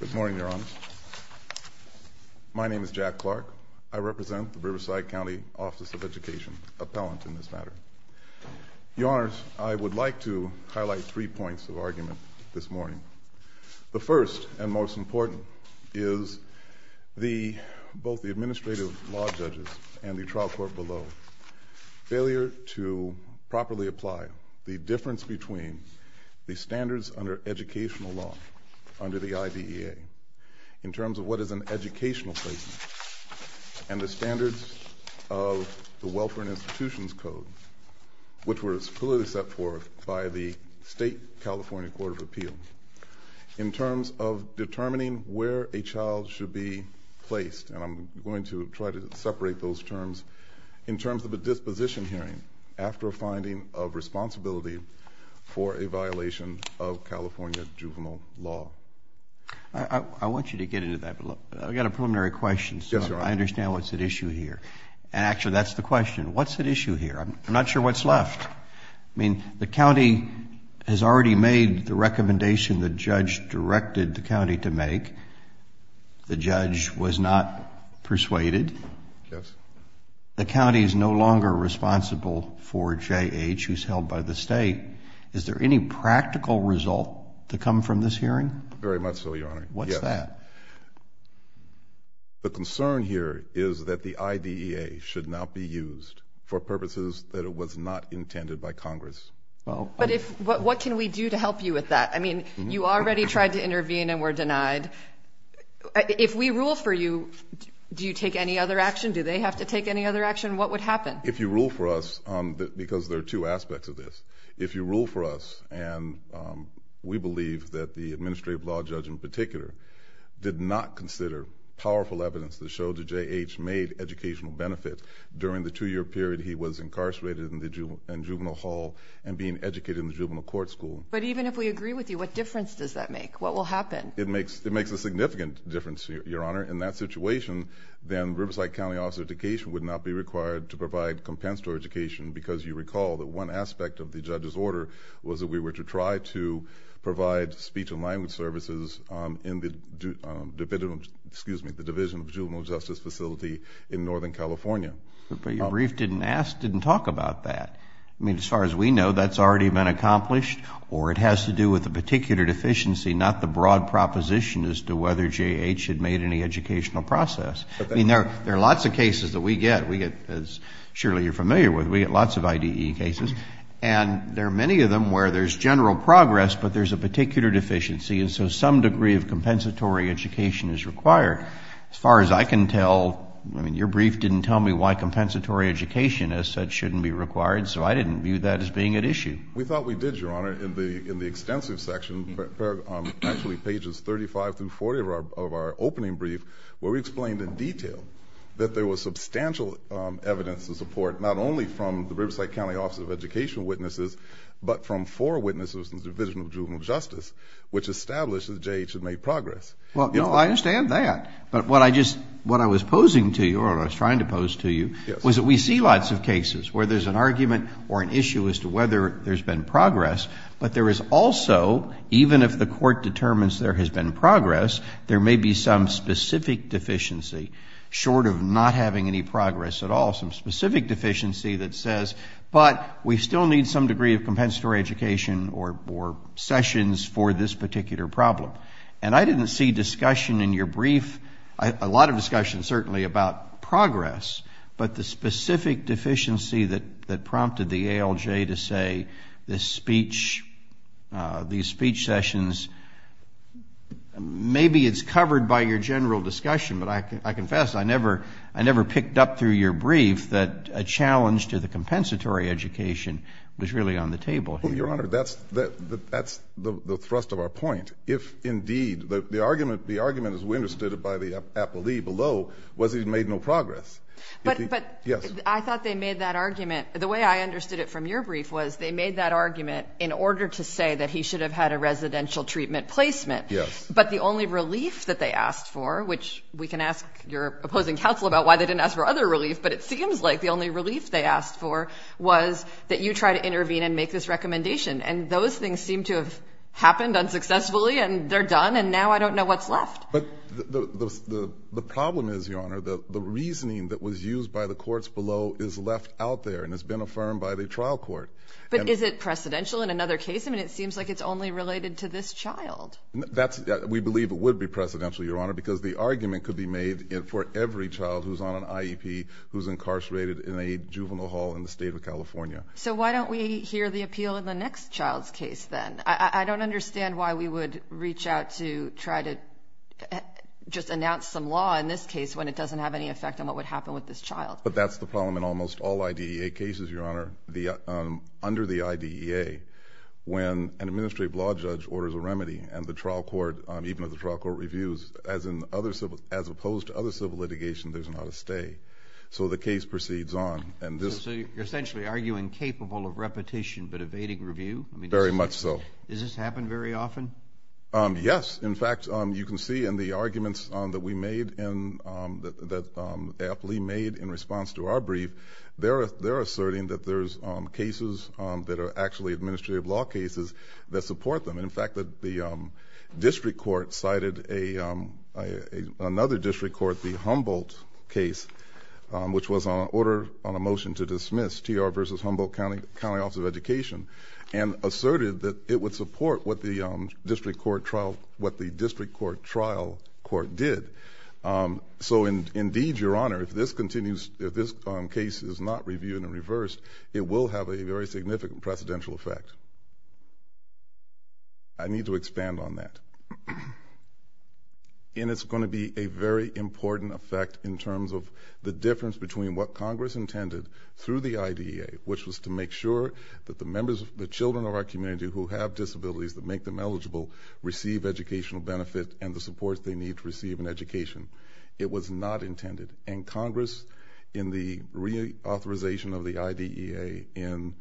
Good morning, Your Honors. My name is Jack Clark. I represent the Riverside Cnty Office of Education, appellant in this matter. Your Honors, I would like to highlight three points of argument this morning. The first, and most important, is the, both the administrative law judges and the trial court below, failure to properly apply the difference between the standards under educational law, under the IDEA, in terms of what is an educational placement, and the standards of the Welfare and Institutions Code, which was fully set forth by the State California Court of Appeal, in terms of determining where a child should be placed. And I'm going to try to separate those terms, in terms of a disposition hearing, after a finding of responsibility for a violation of California juvenile law. I want you to get into that, but look, I've got a preliminary question, so I understand what's at issue here. And actually, that's the question. What's at issue here? I'm not sure what's left. I mean, the county has already made the recommendation the judge directed the county to make. The judge was not persuaded. Yes. The county is no longer responsible for J.H., who's held by the state. Is there any practical result to come from this hearing? Very much so, Your Honor. What's that? The concern here is that the IDEA should not be used for purposes that it was not intended by Congress. But what can we do to help you with that? I mean, you already tried to intervene and were denied. If we rule for you, do you take any other action? Do they have to take any other action? What would happen? If you rule for us, because there are two aspects of this, if you rule for us, and we believe that the administrative law judge in particular did not consider powerful evidence that showed that J.H. made educational benefit during the two-year period he was incarcerated in the juvenile hall and being educated in the juvenile court school. But even if we agree with you, what difference does that make? What will happen? It makes a significant difference, Your Honor. In that situation, then Riverside County Office of Education would not be required to provide compensatory education because you recall that one aspect of the judge's order was that we were to try to provide speech and language services in the Division of Juvenile Justice Facility in Northern California. But your brief didn't talk about that. I mean, as far as we know, that's already been accomplished or it has to do with a particular deficiency, not the broad proposition as to whether J.H. had made any educational process. I mean, there are lots of cases that we get, as surely you're familiar with, we get lots of I.D.E. cases, and there are many of them where there's general progress, but there's a particular deficiency, and so some degree of compensatory education is required. As far as I can tell, I mean, your brief didn't tell me why compensatory education, as such, shouldn't be required, so I didn't view that as being at issue. We thought we did, Your Honor, in the extensive section, actually pages 35 through 40 of our opening brief, where we explained in detail that there was substantial evidence to support not only from the Riverside County Office of Education witnesses, but from four witnesses in the Division of Juvenile Justice, which established that J.H. had made progress. Well, I understand that, but what I was posing to you, or what I was trying to pose to you, was that we see lots of cases where there's an argument or an issue as to whether there's been progress, but there is also, even if the Court determines there has been progress, there may be some specific deficiency, short of not having any progress at all, some specific deficiency that says, but we still need some degree of compensatory education or sessions for this particular problem. And I didn't see discussion in your brief, a lot of discussion, certainly, about progress, but the specific deficiency that prompted the ALJ to say this speech, these speech sessions, maybe it's covered by your general discussion, but I confess I never picked up through your brief that a challenge to the compensatory education was really on the table here. Your Honor, that's the thrust of our point. If indeed, the argument, as we understood it by the appellee below, was he'd made no progress. Yes. But I thought they made that argument, the way I understood it from your brief was they made that argument in order to say that he should have had a residential treatment placement. Yes. But the only relief that they asked for, which we can ask your opposing counsel about why they didn't ask for other relief, but it seems like the only relief they asked for was that you try to intervene and make this recommendation. And those things seem to have happened unsuccessfully, and they're done, and now I don't know what's left. But the problem is, Your Honor, the reasoning that was used by the courts below is left out there and has been affirmed by the trial court. But is it precedential in another case? I mean, it seems like it's only related to this child. We believe it would be precedential, Your Honor, because the argument could be made for every child who's on an IEP who's incarcerated in a juvenile hall in the state of California. So why don't we hear the appeal in the next child's case, then? I don't understand why we would reach out to try to just announce some law in this case when it doesn't have any effect on what would happen with this child. But that's the problem in almost all IDEA cases, Your Honor. Under the IDEA, when an administrative law judge orders a remedy and the trial court, even if the trial court reviews, as opposed to other civil litigation, there's not a stay. So the case proceeds on. So you're essentially arguing capable of repetition but evading review? Very much so. Does this happen very often? Yes. In fact, you can see in the arguments that we made and that AFLE made in response to our brief, they're asserting that there's cases that are actually administrative law cases that support them. In fact, the district court cited another district court, the Humboldt case, which was on order on a motion to dismiss TR versus Humboldt County Office of Education, and asserted that it would support what the district court trial court did. So indeed, Your Honor, if this case is not reviewed and reversed, it will have a very significant precedential effect. I need to expand on that. And it's going to be a very important effect in terms of the difference between what Congress intended through the IDEA, which was to make sure that the members, the children of our community who have disabilities that make them eligible receive educational benefit and the support they need to receive an education. It was not intended. And Congress, in the reauthorization of the IDEA in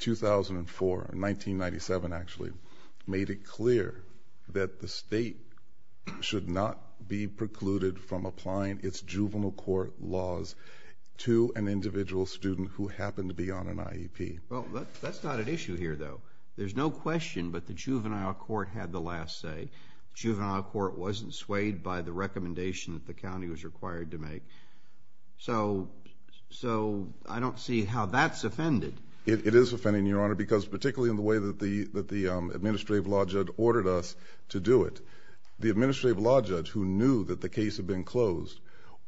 2004, in 1997 actually, made it clear that the state should not be precluded from applying its juvenile court laws to an individual student who happened to be on an IEP. Well, that's not an issue here, though. There's no question, but the juvenile court had the last say. Juvenile court wasn't swayed by the recommendation that the county was required to make. So I don't see how that's offended. It is offending, Your Honor, because particularly in the way that the administrative law judge ordered us to do it. The administrative law judge, who knew that the case had been closed,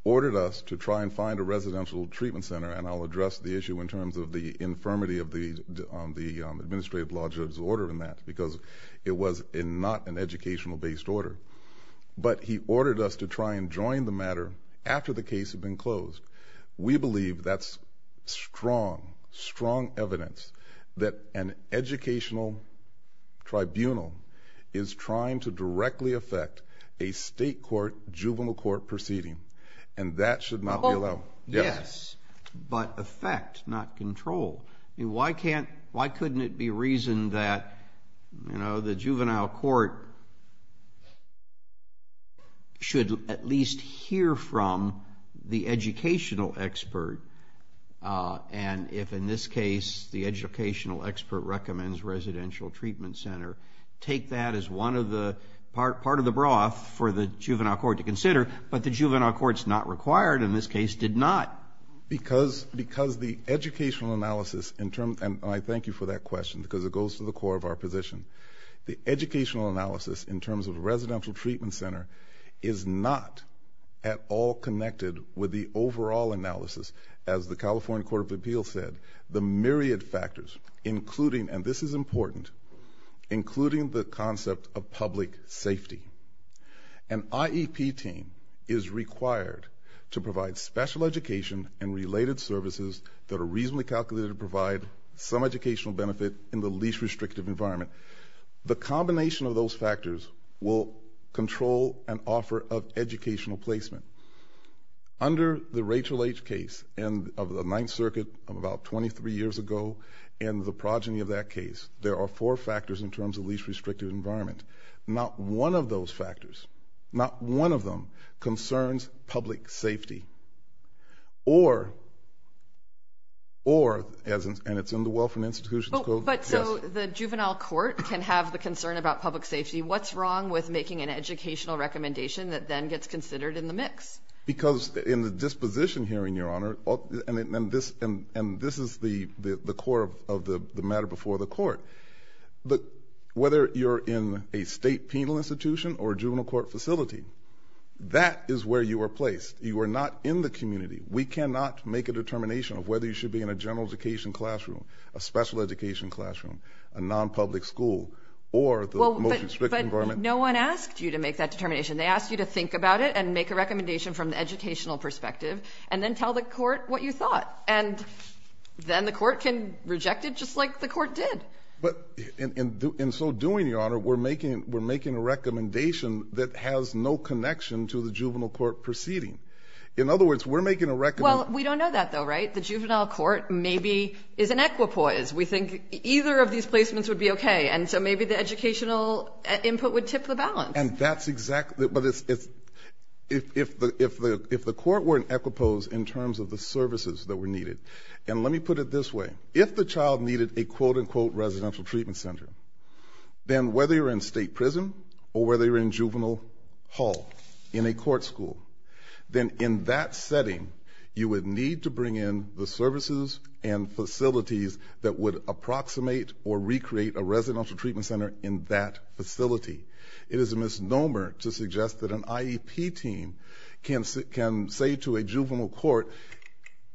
ordered us to try and find a residential treatment center. And I'll address the issue in terms of the infirmity of the administrative law judge's order in that, because it was not an educational-based order. But he ordered us to try and join the matter after the case had been closed. We believe that's strong, strong evidence that an educational tribunal is trying to directly affect a state court, juvenile court proceeding. And that should not be allowed. Yes, but affect, not control. I mean, why can't, why couldn't it be reasoned that, you know, the juvenile court should at least hear from the educational expert, and if, in this case, the educational expert recommends residential treatment center, take that as one of the, part of the broth for the juvenile court to consider. But the juvenile court's not required, and this case did not. Because, because the educational analysis in terms, and I thank you for that question, because it goes to the core of our position. The educational analysis in terms of residential treatment center is not at all connected with the overall analysis, as the California Court of Appeals said, the myriad factors, including, and this is important, including the concept of public safety. An IEP team is required to provide special education and related services that are reasonably calculated to provide some educational benefit in the least restrictive environment. The combination of those factors will control an offer of educational placement. Under the Rachel H. case of the Ninth Circuit of about 23 years ago, and the progeny of that case, there are four factors in terms of least restrictive environment. Not one of those factors, not one of them, concerns public safety. Or, or, and it's in the Welfare and Institutions Code. But so the juvenile court can have the concern about public safety. What's wrong with making an educational recommendation that then gets considered in the mix? Because in the disposition hearing, Your Honor, and this is the core of the matter before the court. Whether you're in a state penal institution or a juvenile court facility, that is where you are placed. You are not in the community. We cannot make a determination of whether you should be in a general education classroom, a special education classroom, a non-public school, or the most restrictive environment. But no one asked you to make that determination. They asked you to think about it and make a recommendation from the educational perspective, and then tell the court what you thought. And then the court can reject it just like the court did. But in so doing, Your Honor, we're making, we're making a recommendation that has no connection to the juvenile court proceeding. In other words, we're making a recommendation. Well, we don't know that though, right? The juvenile court maybe is an equipoise. We think either of these placements would be okay. And so maybe the educational input would tip the balance. And that's exactly, but it's, it's, if, if the, if the, if the court were an equipoise in terms of the services that were needed. And let me put it this way. If the child needed a quote unquote residential treatment center, then whether you're in state prison or whether you're in juvenile hall in a court school, then in that setting, you would need to bring in the services and facilities that would approximate or recreate a residential treatment center in that facility. It is a misnomer to suggest that an IEP team can say to a juvenile court,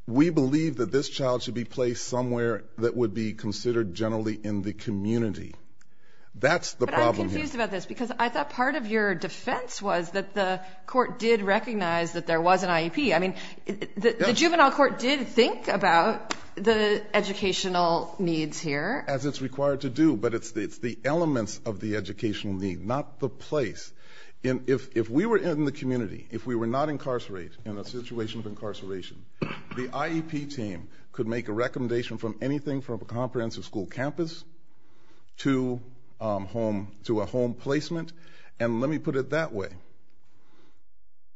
we believe that this child should be placed somewhere that would be considered generally in the community. That's the problem here. Because I thought part of your defense was that the court did recognize that there was an IEP. I mean, the juvenile court did think about the educational needs here. As it's required to do, but it's the, it's the elements of the educational need, not the place. And if, if we were in the community, if we were not incarcerated in a situation of incarceration, the IEP team could make a recommendation from anything from a comprehensive school campus to home, to a home placement. And let me put it that way.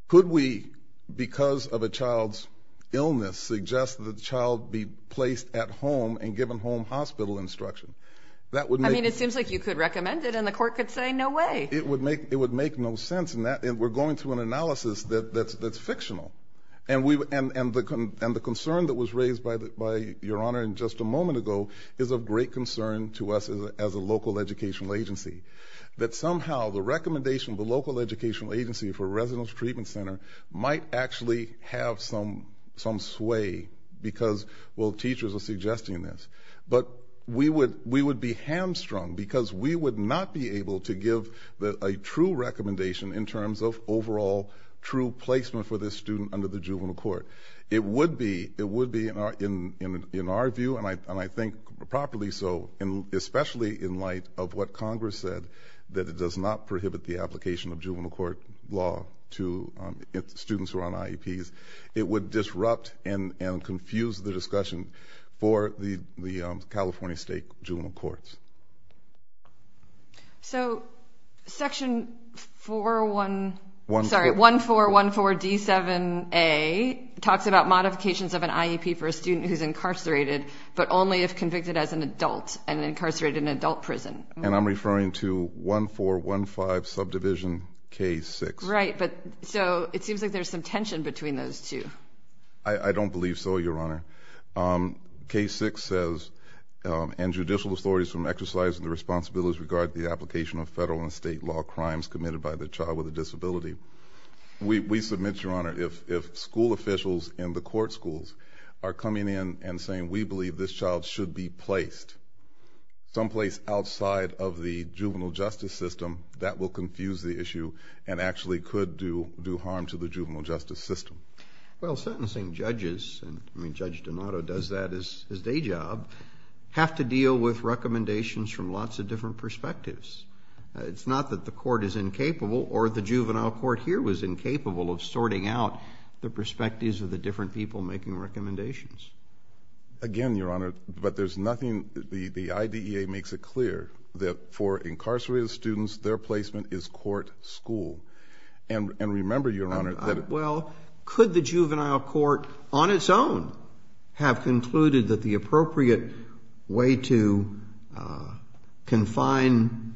Could we, because of a child's illness, suggest that the child be placed at home and given home hospital instruction? That would make- I mean, it seems like you could recommend it and the court could say no way. It would make, it would make no sense in that, and we're going through an analysis that, that's, that's fictional. And we, and, and the, and the concern that was raised by the, by your honor in just a moment ago, is of great concern to us as a, as a local educational agency. That somehow the recommendation of the local educational agency for a residence treatment center might actually have some, some sway. Because, well, teachers are suggesting this. But we would, we would be hamstrung because we would not be able to give the, a true recommendation in terms of overall true placement for this student under the juvenile court. It would be, it would be in our, in, in, in our view, and I, and I think properly so, in, especially in light of what Congress said, that it does not prohibit the application of juvenile court law to students who are on IEPs. It would disrupt and, and confuse the discussion for the, the California State Juvenile Courts. So, section 4-1, sorry, 1-4-1-4-D-7-A talks about modifications of an IEP for a student who's incarcerated, but only if convicted as an adult and incarcerated in an adult prison. And I'm referring to 1-4-1-5 subdivision K-6. Right, but, so, it seems like there's some tension between those two. I, I don't believe so, your honor. K-6 says, and judicial authorities from exercising the responsibilities regard the application of federal and state law crimes committed by the child with a disability. We, we submit, your honor, if, if school officials in the court schools are coming in and saying, we believe this child should be placed someplace outside of the juvenile justice system, that will confuse the issue and actually could do, do harm to the juvenile justice system. Well, sentencing judges, and, I mean, Judge Donato does that as, as day job, have to deal with recommendations from lots of different perspectives. It's not that the court is incapable or the juvenile court here was incapable of sorting out the perspectives of the different people making recommendations. Again, your honor, but there's nothing, the, the IDEA makes it clear that for incarcerated students, their placement is court school. And, and remember, your honor, that. Well, could the juvenile court on its own have concluded that the appropriate way to confine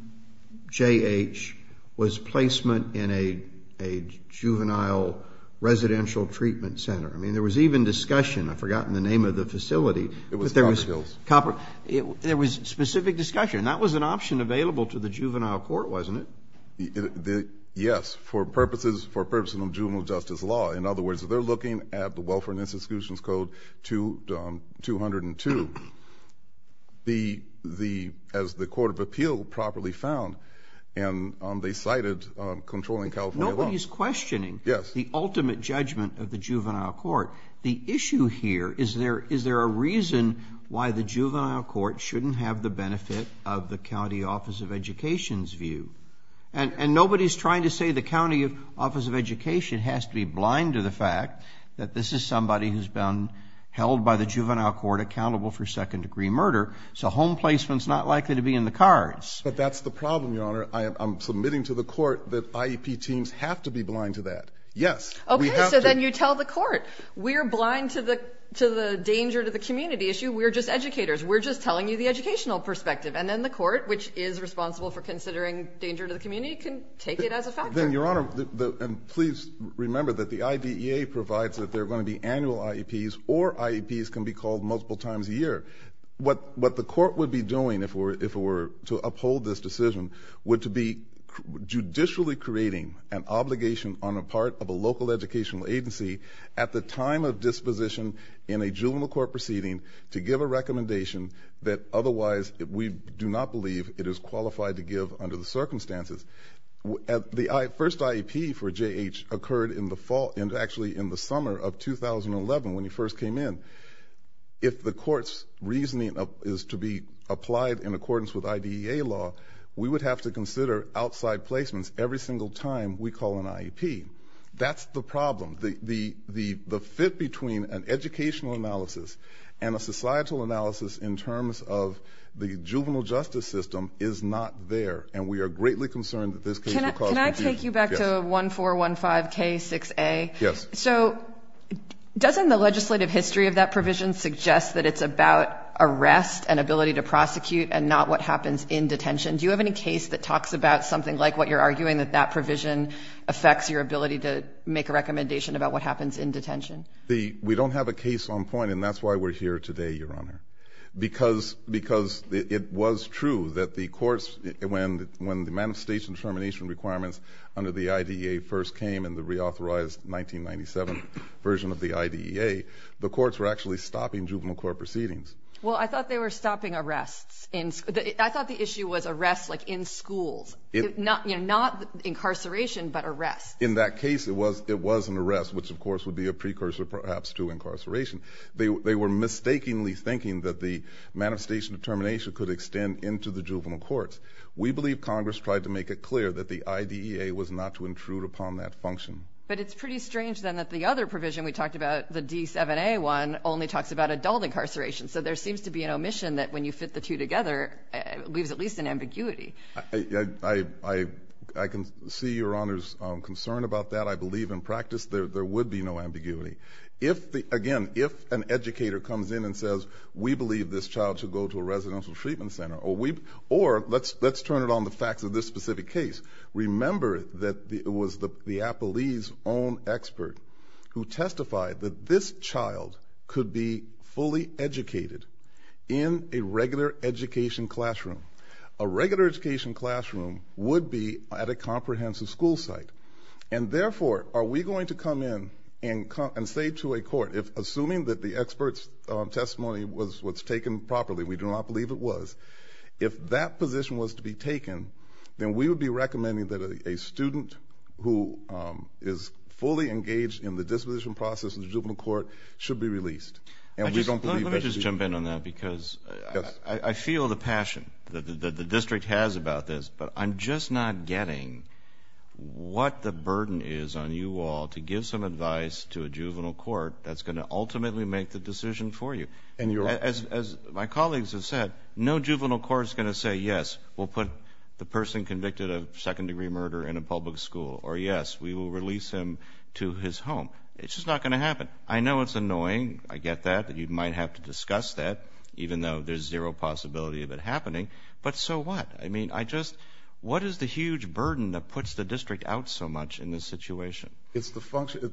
J-H was placement in a, a juvenile residential treatment center? I mean, there was even discussion, I've forgotten the name of the facility. It was Copper Hills. Copper, there was specific discussion. That was an option available to the juvenile court, wasn't it? Yes, for purposes, for purposes of juvenile justice law. In other words, if they're looking at the Welfare and Institutions Code 202, the, the, as the Court of Appeal properly found, and they cited controlling California law. Nobody's questioning the ultimate judgment of the juvenile court. The issue here is there, is there a reason why the juvenile court shouldn't have the benefit of the county office of education's view? And, and nobody's trying to say the county office of education has to be blind to the fact that this is somebody who's been held by the juvenile court accountable for second degree murder. So home placement's not likely to be in the cards. But that's the problem, your honor. I am, I'm submitting to the court that IEP teams have to be blind to that. Yes, we have to. Okay, so then you tell the court, we're blind to the, to the danger to the community issue. We're just educators. We're just telling you the educational perspective. And then the court, which is responsible for considering danger to the community, can take it as a factor. Then, your honor, and please remember that the IDEA provides that there are going to be annual IEPs or IEPs can be called multiple times a year. What, what the court would be doing if it were, if it were to uphold this decision, would to be judicially creating an obligation on a part of a local educational agency at the time of disposition in a juvenile court proceeding to give a recommendation that otherwise we do not believe it is qualified to give under the circumstances. The first IEP for J.H. occurred in the fall, actually in the summer of 2011 when he first came in. If the court's reasoning is to be applied in accordance with IDEA law, we would have to consider outside placements every single time we call an IEP. That's the problem. The fit between an educational analysis and a societal analysis in terms of the juvenile justice system is not there, and we are greatly concerned that this case will cause confusion. Can I take you back to 1415K6A? Yes. So doesn't the legislative history of that provision suggest that it's about arrest and ability to prosecute and not what happens in detention? Do you have any case that talks about something like what you're arguing, that that provision affects your ability to make a recommendation about what happens in detention? We don't have a case on point, and that's why we're here today, Your Honor, because it was true that the courts, when the manifestation determination requirements under the IDEA first came in the reauthorized 1997 version of the IDEA, the courts were actually stopping juvenile court proceedings. Well, I thought they were stopping arrests. I thought the issue was arrests like in schools, not incarceration but arrests. In that case, it was an arrest, which, of course, would be a precursor perhaps to incarceration. They were mistakenly thinking that the manifestation determination could extend into the juvenile courts. We believe Congress tried to make it clear that the IDEA was not to intrude upon that function. But it's pretty strange, then, that the other provision we talked about, the D7A one, only talks about adult incarceration. So there seems to be an omission that when you fit the two together, it leaves at least an ambiguity. I can see Your Honor's concern about that. I believe in practice there would be no ambiguity. Again, if an educator comes in and says, we believe this child should go to a residential treatment center, or let's turn it on the facts of this specific case. Remember that it was the Applebee's own expert who testified that this child could be fully educated in a regular education classroom. A regular education classroom would be at a comprehensive school site. And therefore, are we going to come in and say to a court, assuming that the expert's testimony was what's taken properly, we do not believe it was, if that position was to be taken, then we would be recommending that a student who is fully engaged in the disposition process in the juvenile court should be released. Let me just jump in on that because I feel the passion that the district has about this. But I'm just not getting what the burden is on you all to give some advice to a juvenile court that's going to ultimately make the decision for you. As my colleagues have said, no juvenile court is going to say yes, we'll put the person convicted of second-degree murder in a public school, or yes, we will release him to his home. It's just not going to happen. I know it's annoying. I get that. You might have to discuss that, even though there's zero possibility of it happening. But so what? I mean, I just, what is the huge burden that puts the district out so much in this situation? It's the function,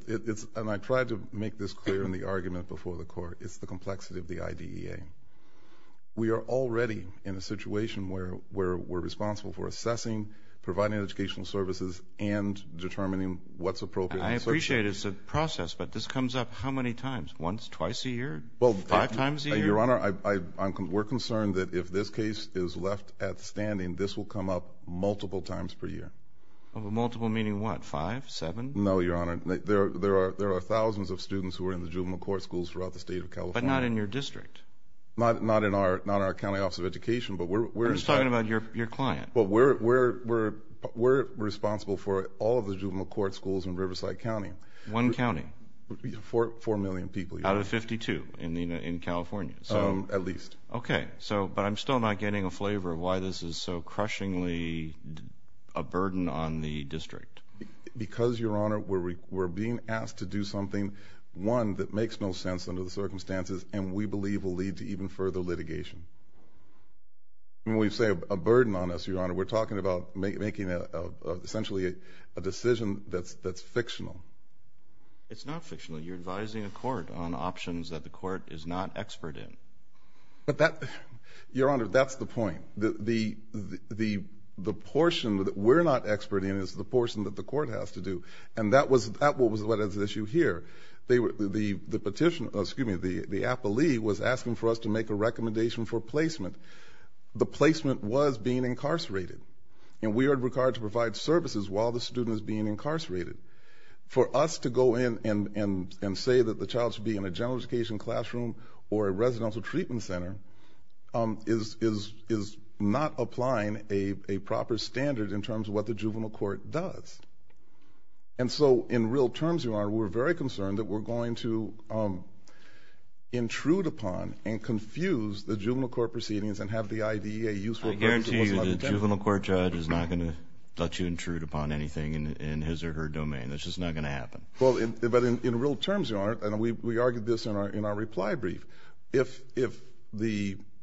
and I tried to make this clear in the argument before the court, it's the complexity of the IDEA. We are already in a situation where we're responsible for assessing, providing educational services, and determining what's appropriate. I appreciate it's a process, but this comes up how many times, once, twice a year, five times a year? Your Honor, we're concerned that if this case is left at standing, this will come up multiple times per year. Multiple meaning what, five, seven? No, Your Honor. There are thousands of students who are in the juvenile court schools throughout the state of California. But not in your district. Not in our county office of education. I'm just talking about your client. But we're responsible for all of the juvenile court schools in Riverside County. One county. Four million people. Out of 52 in California. At least. Okay. But I'm still not getting a flavor of why this is so crushingly a burden on the district. Because, Your Honor, we're being asked to do something, one, that makes no sense under the circumstances, and we believe will lead to even further litigation. When we say a burden on us, Your Honor, we're talking about making essentially a decision that's fictional. It's not fictional. You're advising a court on options that the court is not expert in. Your Honor, that's the point. The portion that we're not expert in is the portion that the court has to do. And that was what is at issue here. The petitioner, excuse me, the appellee was asking for us to make a recommendation for placement. The placement was being incarcerated. And we are required to provide services while the student is being incarcerated. For us to go in and say that the child should be in a general education classroom or a residential treatment center is not applying a proper standard in terms of what the juvenile court does. And so, in real terms, Your Honor, we're very concerned that we're going to intrude upon and confuse the juvenile court proceedings and have the IDEA use it. I guarantee you the juvenile court judge is not going to let you intrude upon anything in his or her domain. That's just not going to happen. Well, but in real terms, Your Honor, and we argued this in our reply brief,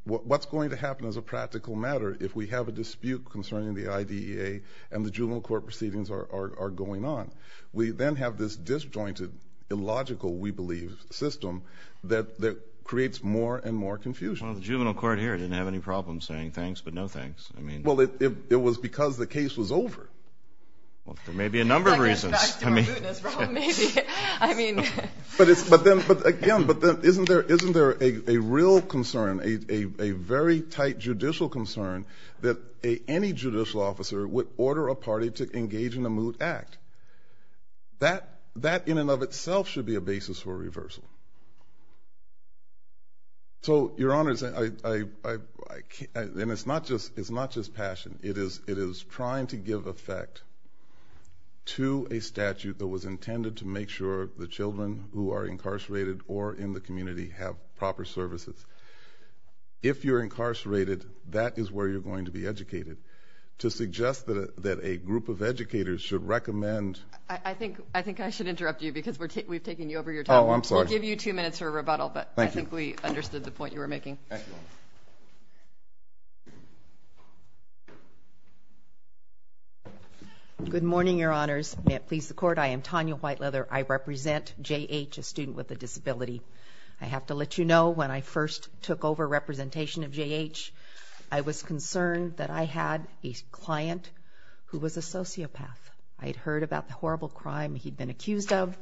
what's going to happen as a practical matter if we have a dispute concerning the IDEA and the juvenile court proceedings are going on? We then have this disjointed, illogical, we believe, system that creates more and more confusion. Well, the juvenile court here didn't have any problem saying thanks but no thanks. Well, it was because the case was over. Well, there may be a number of reasons. Maybe. But again, isn't there a real concern, a very tight judicial concern, that any judicial officer would order a party to engage in a moot act? That in and of itself should be a basis for a reversal. So, Your Honor, and it's not just passion. It is trying to give effect to a statute that was intended to make sure the children who are incarcerated or in the community have proper services. If you're incarcerated, that is where you're going to be educated. To suggest that a group of educators should recommend. I think I should interrupt you because we've taken you over your time. Oh, I'm sorry. We'll give you two minutes for a rebuttal, but I think we understood the point you were making. Thank you. Good morning, Your Honors. May it please the Court, I am Tanya Whiteleather. I represent J.H., a student with a disability. I have to let you know when I first took over representation of J.H., I was concerned that I had a client who was a sociopath. I had heard about the horrible crime he'd been accused of.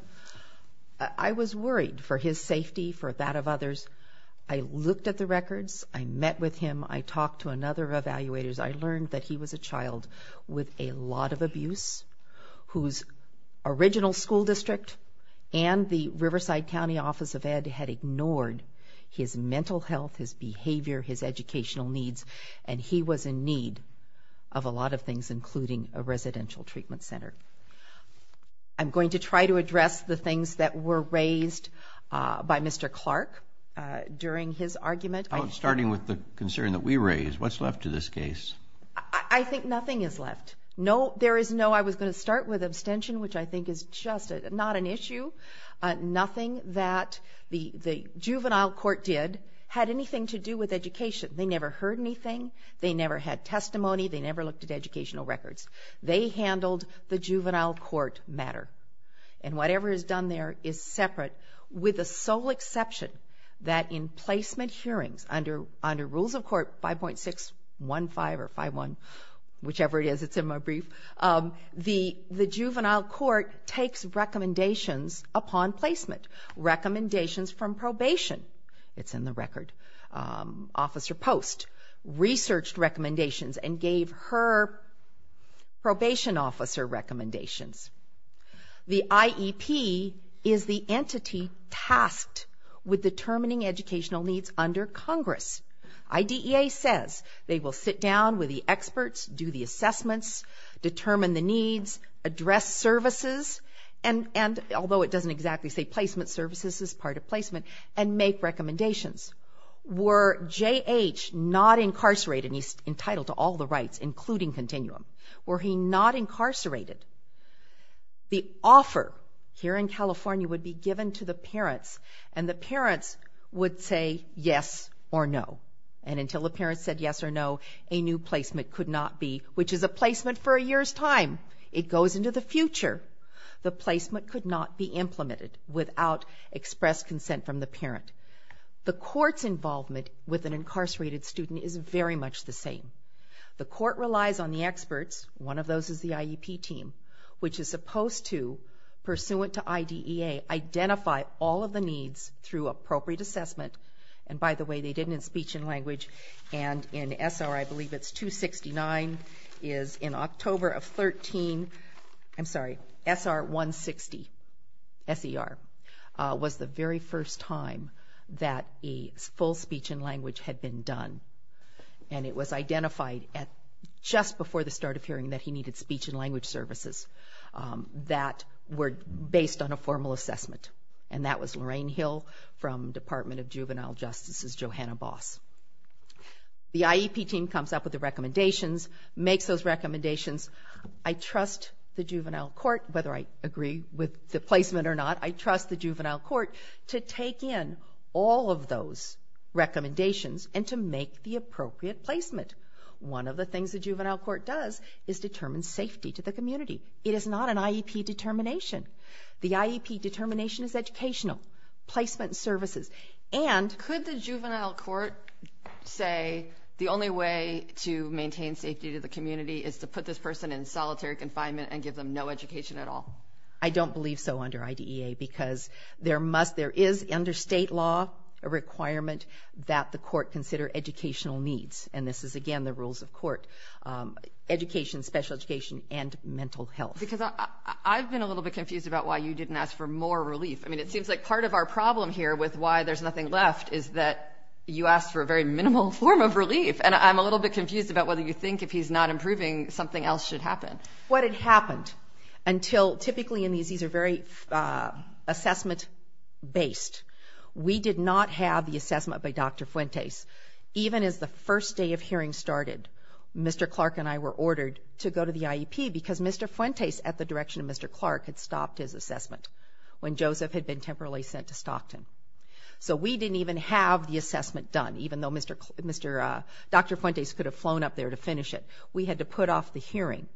I was worried for his safety, for that of others. I looked at the records. I met with him. I talked to another evaluator. I learned that he was a child with a lot of abuse, whose original school district and the Riverside County Office of Ed had ignored his mental health, his behavior, his educational needs, and he was in need of a lot of things, including a residential treatment center. I'm going to try to address the things that were raised by Mr. Clark during his argument. Starting with the concern that we raised, what's left to this case? I think nothing is left. No, there is no, I was going to start with abstention, which I think is just not an issue. Nothing that the juvenile court did had anything to do with education. They never heard anything. They never had testimony. They never looked at educational records. They handled the juvenile court matter, and whatever is done there is separate with the sole exception that in placement hearings, under rules of court 5.615 or 5.1, whichever it is, it's in my brief, the juvenile court takes recommendations upon placement, recommendations from probation. It's in the record. Officer Post researched recommendations and gave her probation officer recommendations. The IEP is the entity tasked with determining educational needs under Congress. IDEA says they will sit down with the experts, do the assessments, determine the needs, address services, and although it doesn't exactly say placement services, part of placement, and make recommendations. Were J.H. not incarcerated, and he's entitled to all the rights, including continuum, were he not incarcerated, the offer here in California would be given to the parents, and the parents would say yes or no, and until the parents said yes or no, a new placement could not be, which is a placement for a year's time. It goes into the future. The placement could not be implemented without express consent from the parent. The court's involvement with an incarcerated student is very much the same. The court relies on the experts, one of those is the IEP team, which is supposed to, pursuant to IDEA, identify all of the needs through appropriate assessment, and by the way, they did it in speech and language, and in SR, I believe it's 269, is in October of 13, I'm sorry, SR 160, S-E-R, was the very first time that a full speech and language had been done, and it was identified just before the start of hearing that he needed speech and language services that were based on a formal assessment, and that was Lorraine Hill from Department of Juvenile Justice's Johanna Boss. The IEP team comes up with the recommendations, makes those recommendations. I trust the juvenile court, whether I agree with the placement or not, I trust the juvenile court to take in all of those recommendations and to make the appropriate placement. One of the things the juvenile court does is determine safety to the community. It is not an IEP determination. The IEP determination is educational, placement services. And could the juvenile court say the only way to maintain safety to the community is to put this person in solitary confinement and give them no education at all? I don't believe so under IDEA because there is, under state law, a requirement that the court consider educational needs, and this is, again, the rules of court, education, special education, and mental health. Because I've been a little bit confused about why you didn't ask for more relief. I mean, it seems like part of our problem here with why there's nothing left is that you asked for a very minimal form of relief, and I'm a little bit confused about whether you think if he's not improving, something else should happen. What had happened until typically in these, these are very assessment-based, we did not have the assessment by Dr. Fuentes. Even as the first day of hearing started, Mr. Clark and I were ordered to go to the IEP because Mr. Fuentes, at the direction of Mr. Clark, had stopped his assessment when Joseph had been temporarily sent to Stockton. So we didn't even have the assessment done, even though Dr. Fuentes could have flown up there to finish it. We had to put off the hearing.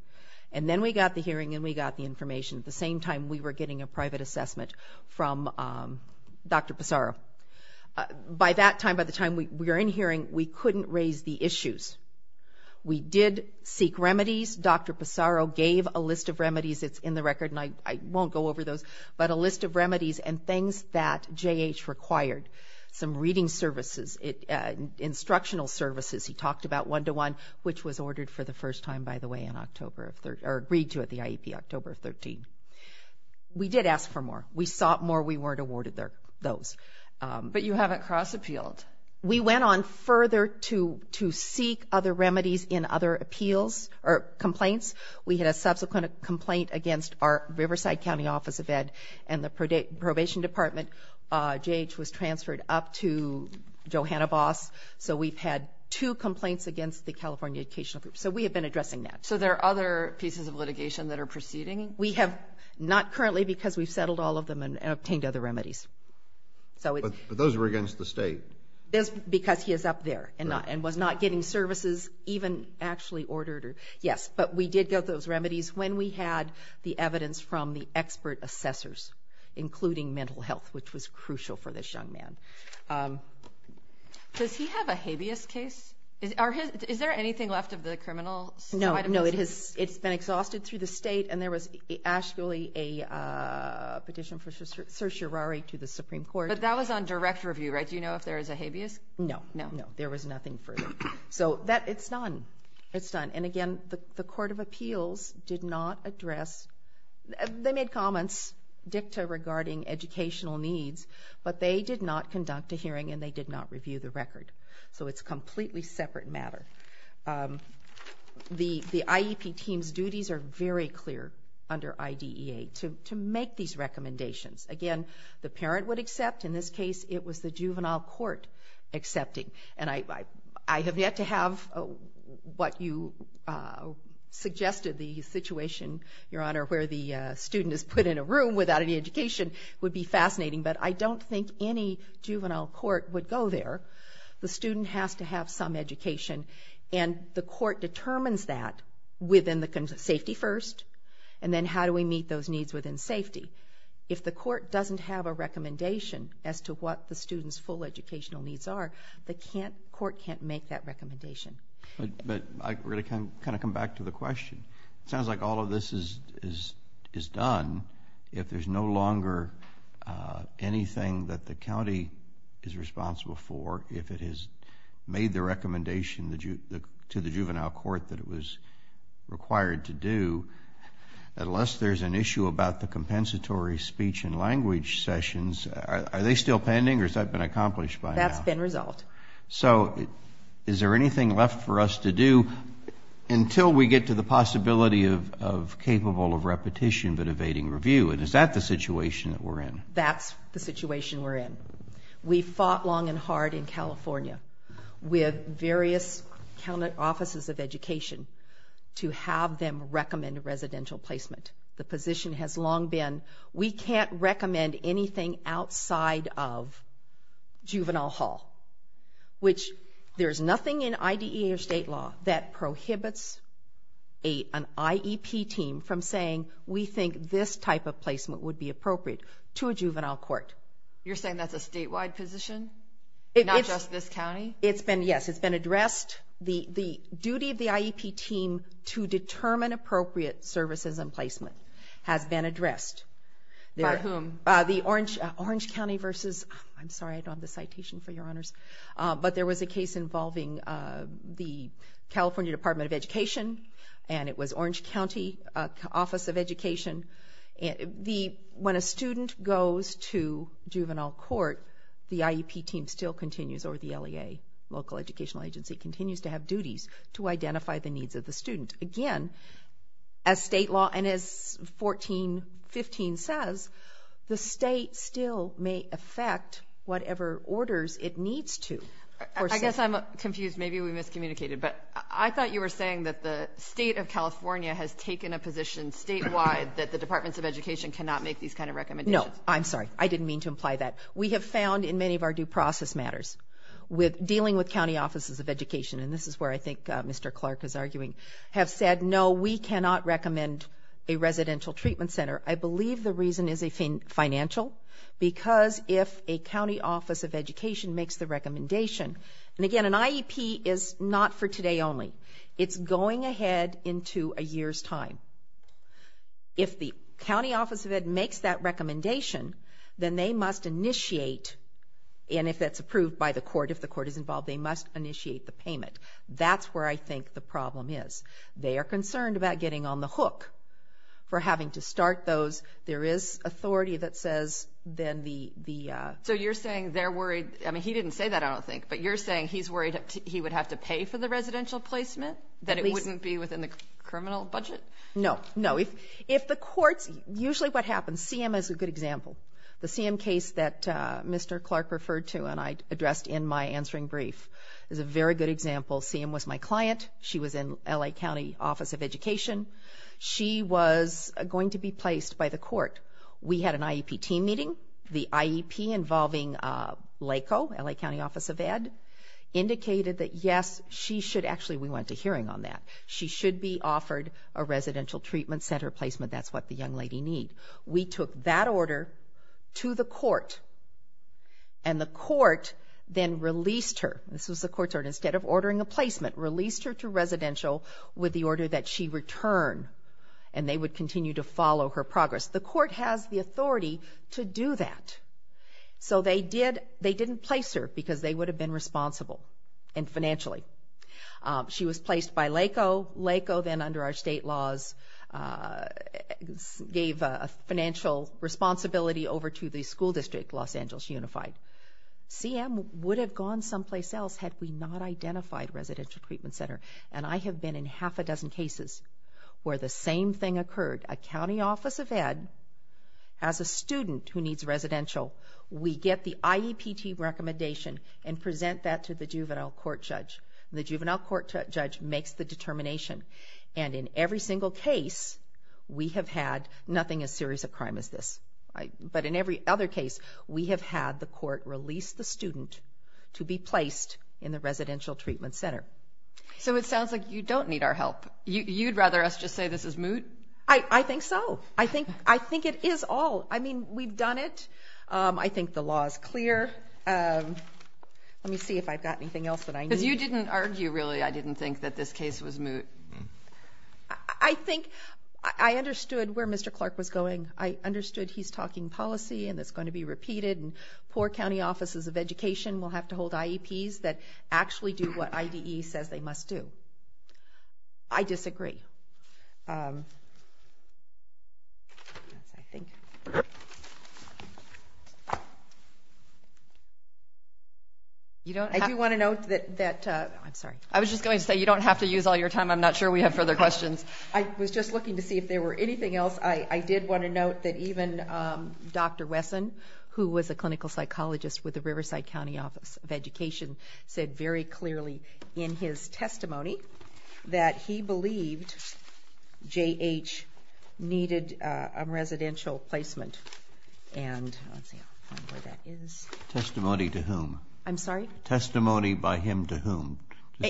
And then we got the hearing and we got the information. At the same time, we were getting a private assessment from Dr. Pissarro. By that time, by the time we were in hearing, we couldn't raise the issues. We did seek remedies. Dr. Pissarro gave a list of remedies. It's in the record, and I won't go over those, but a list of remedies and things that J.H. required. Some reading services, instructional services. He talked about one-to-one, which was ordered for the first time, by the way, in October of 13, or agreed to at the IEP October of 13. We did ask for more. We sought more. We weren't awarded those. But you haven't cross-appealed. We went on further to seek other remedies in other appeals or complaints. We had a subsequent complaint against our Riverside County Office of Ed and the Probation Department. J.H. was transferred up to Johanna Voss. So we've had two complaints against the California Educational Group. So we have been addressing that. So there are other pieces of litigation that are proceeding? We have not currently because we've settled all of them and obtained other remedies. But those were against the state. Because he is up there and was not getting services, even actually ordered. Yes, but we did get those remedies when we had the evidence from the expert assessors, including mental health, which was crucial for this young man. Does he have a habeas case? Is there anything left of the criminal side of this? No, it's been exhausted through the state, and there was actually a petition for certiorari to the Supreme Court. But that was on direct review, right? Do you know if there is a habeas? No, no. There was nothing further. So it's done. It's done. And, again, the Court of Appeals did not address. They made comments, dicta regarding educational needs, but they did not conduct a hearing and they did not review the record. So it's a completely separate matter. The IEP team's duties are very clear under IDEA to make these recommendations. Again, the parent would accept. In this case, it was the juvenile court accepting. And I have yet to have what you suggested, the situation, Your Honor, where the student is put in a room without any education would be fascinating, but I don't think any juvenile court would go there. The student has to have some education, and the court determines that within the safety first, and then how do we meet those needs within safety. If the court doesn't have a recommendation as to what the student's full educational needs are, the court can't make that recommendation. But I'm going to kind of come back to the question. It sounds like all of this is done. If there's no longer anything that the county is responsible for, if it has made the recommendation to the juvenile court that it was required to do, unless there's an issue about the compensatory speech and language sessions, are they still pending, or has that been accomplished by now? That's been resolved. So is there anything left for us to do until we get to the possibility of capable of repetition but evading review? And is that the situation that we're in? That's the situation we're in. We fought long and hard in California with various county offices of education to have them recommend residential placement. The position has long been we can't recommend anything outside of juvenile hall, which there's nothing in IDEA or state law that prohibits an IEP team from saying we think this type of placement would be appropriate to a juvenile court. You're saying that's a statewide position, not just this county? Yes, it's been addressed. The duty of the IEP team to determine appropriate services and placement has been addressed. By whom? The Orange County versus the Citation, for your honors. But there was a case involving the California Department of Education, and it was Orange County Office of Education. When a student goes to juvenile court, the IEP team still continues, or the LEA, local educational agency, continues to have duties to identify the needs of the student. Again, as state law and as 1415 says, the state still may affect whatever orders it needs to. I guess I'm confused. Maybe we miscommunicated. But I thought you were saying that the state of California has taken a position statewide that the Departments of Education cannot make these kind of recommendations. No, I'm sorry. I didn't mean to imply that. We have found in many of our due process matters, with dealing with county offices of education, and this is where I think Mr. Clark is arguing, have said, no, we cannot recommend a residential treatment center. I believe the reason is financial, because if a county office of education makes the recommendation, and again, an IEP is not for today only. It's going ahead into a year's time. If the county office of education makes that recommendation, then they must initiate, and if that's approved by the court, and if the court is involved, they must initiate the payment. That's where I think the problem is. They are concerned about getting on the hook for having to start those. There is authority that says then the ---- So you're saying they're worried, I mean, he didn't say that, I don't think, but you're saying he's worried he would have to pay for the residential placement, that it wouldn't be within the criminal budget? No. No. If the courts, usually what happens, CM is a good example. The CM case that Mr. Clark referred to and I addressed in my answering brief is a very good example. CM was my client. She was in L.A. County Office of Education. She was going to be placed by the court. We had an IEP team meeting. The IEP involving LACO, L.A. County Office of Ed, indicated that yes, she should actually, we went to hearing on that, she should be offered a residential treatment center placement. That's what the young lady need. We took that order to the court and the court then released her. This was the court's order. Instead of ordering a placement, released her to residential with the order that she return and they would continue to follow her progress. The court has the authority to do that. So they didn't place her because they would have been responsible and financially. She was placed by LACO. LACO then under our state laws gave financial responsibility over to the school district, Los Angeles Unified. CM would have gone someplace else had we not identified residential treatment center. And I have been in half a dozen cases where the same thing occurred. A county office of ed, as a student who needs residential, we get the IEP team recommendation and present that to the juvenile court judge. The juvenile court judge makes the determination. And in every single case, we have had nothing as serious a crime as this. But in every other case, we have had the court release the student to be placed in the residential treatment center. So it sounds like you don't need our help. You'd rather us just say this is moot? I think so. I think it is all. I mean, we've done it. I think the law is clear. Let me see if I've got anything else that I need. Because you didn't argue, really, I didn't think that this case was moot. I think I understood where Mr. Clark was going. I understood he's talking policy and it's going to be repeated and poor county offices of education will have to hold IEPs that actually do what IDE says they must do. I disagree. I do want to note that you don't have to use all your time. I'm not sure we have further questions. I was just looking to see if there were anything else. I did want to note that even Dr. Wesson, who was a clinical psychologist with the Riverside County Office of Education, said very clearly in his testimony that he believed J.H. needed a residential placement. Testimony to whom? I'm sorry? Testimony by him to whom?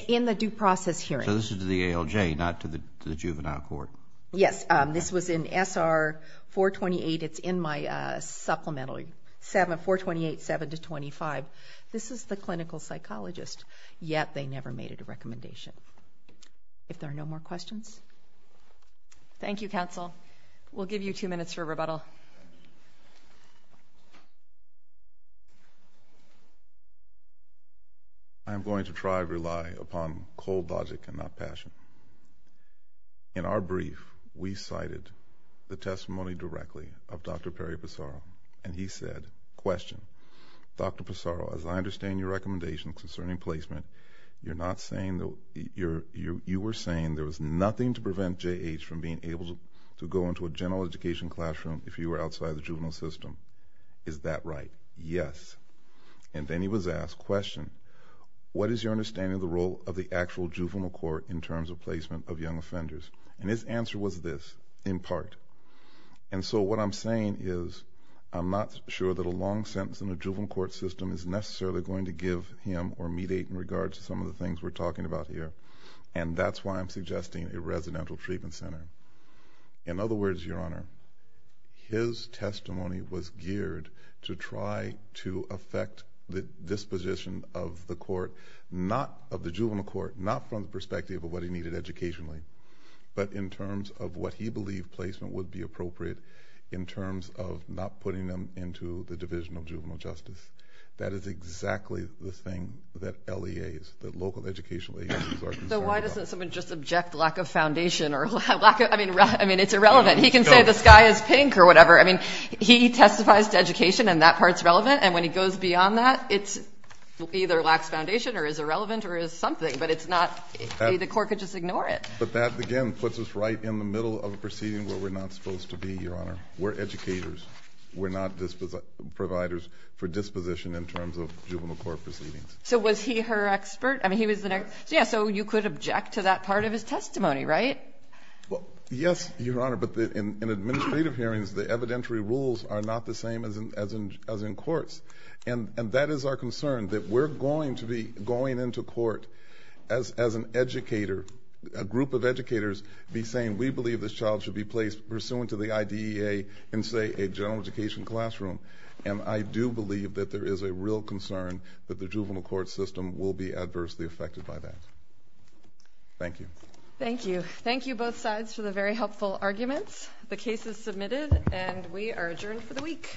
In the due process hearing. So this is to the ALJ, not to the juvenile court? Yes. This was in SR 428. It's in my supplemental, 428.725. This is the clinical psychologist, yet they never made a recommendation. If there are no more questions. Thank you, counsel. We'll give you two minutes for rebuttal. I'm going to try to rely upon cold logic and not passion. In our brief, we cited the testimony directly of Dr. Perry Pissarro, and he said, question, Dr. Pissarro, as I understand your recommendation concerning placement, you were saying there was nothing to prevent J.H. from being able to go into a general education classroom if he were outside the juvenile system. Is that right? Yes. And then he was asked, question, what is your understanding of the role of the actual juvenile court in terms of placement of young offenders? And his answer was this, in part. And so what I'm saying is I'm not sure that a long sentence in the juvenile court system is necessarily going to give him or mediate in regards to some of the things we're talking about here, and that's why I'm suggesting a residential treatment center. In other words, Your Honor, his testimony was geared to try to affect the disposition of the court, not of the juvenile court, not from the perspective of what he needed educationally, but in terms of what he believed placement would be appropriate in terms of not putting them into the Division of Juvenile Justice. That is exactly the thing that LEAs, the local educational agencies are concerned about. So why doesn't someone just object lack of foundation or lack of, I mean, it's irrelevant. He can say the sky is pink or whatever. I mean, he testifies to education and that part's relevant, and when he goes beyond that, it either lacks foundation or is irrelevant or is something, but it's not, the court could just ignore it. But that, again, puts us right in the middle of a proceeding where we're not supposed to be, Your Honor. We're educators. We're not providers for disposition in terms of juvenile court proceedings. So was he her expert? Yeah, so you could object to that part of his testimony, right? Yes, Your Honor, but in administrative hearings, the evidentiary rules are not the same as in courts, and that is our concern, that we're going to be going into court as an educator, a group of educators, be saying we believe this child should be placed pursuant to the IDEA in, say, a general education classroom, and I do believe that there is a real concern that the juvenile court system will be adversely affected by that. Thank you. Thank you. Thank you, both sides, for the very helpful arguments. The case is submitted, and we are adjourned for the week.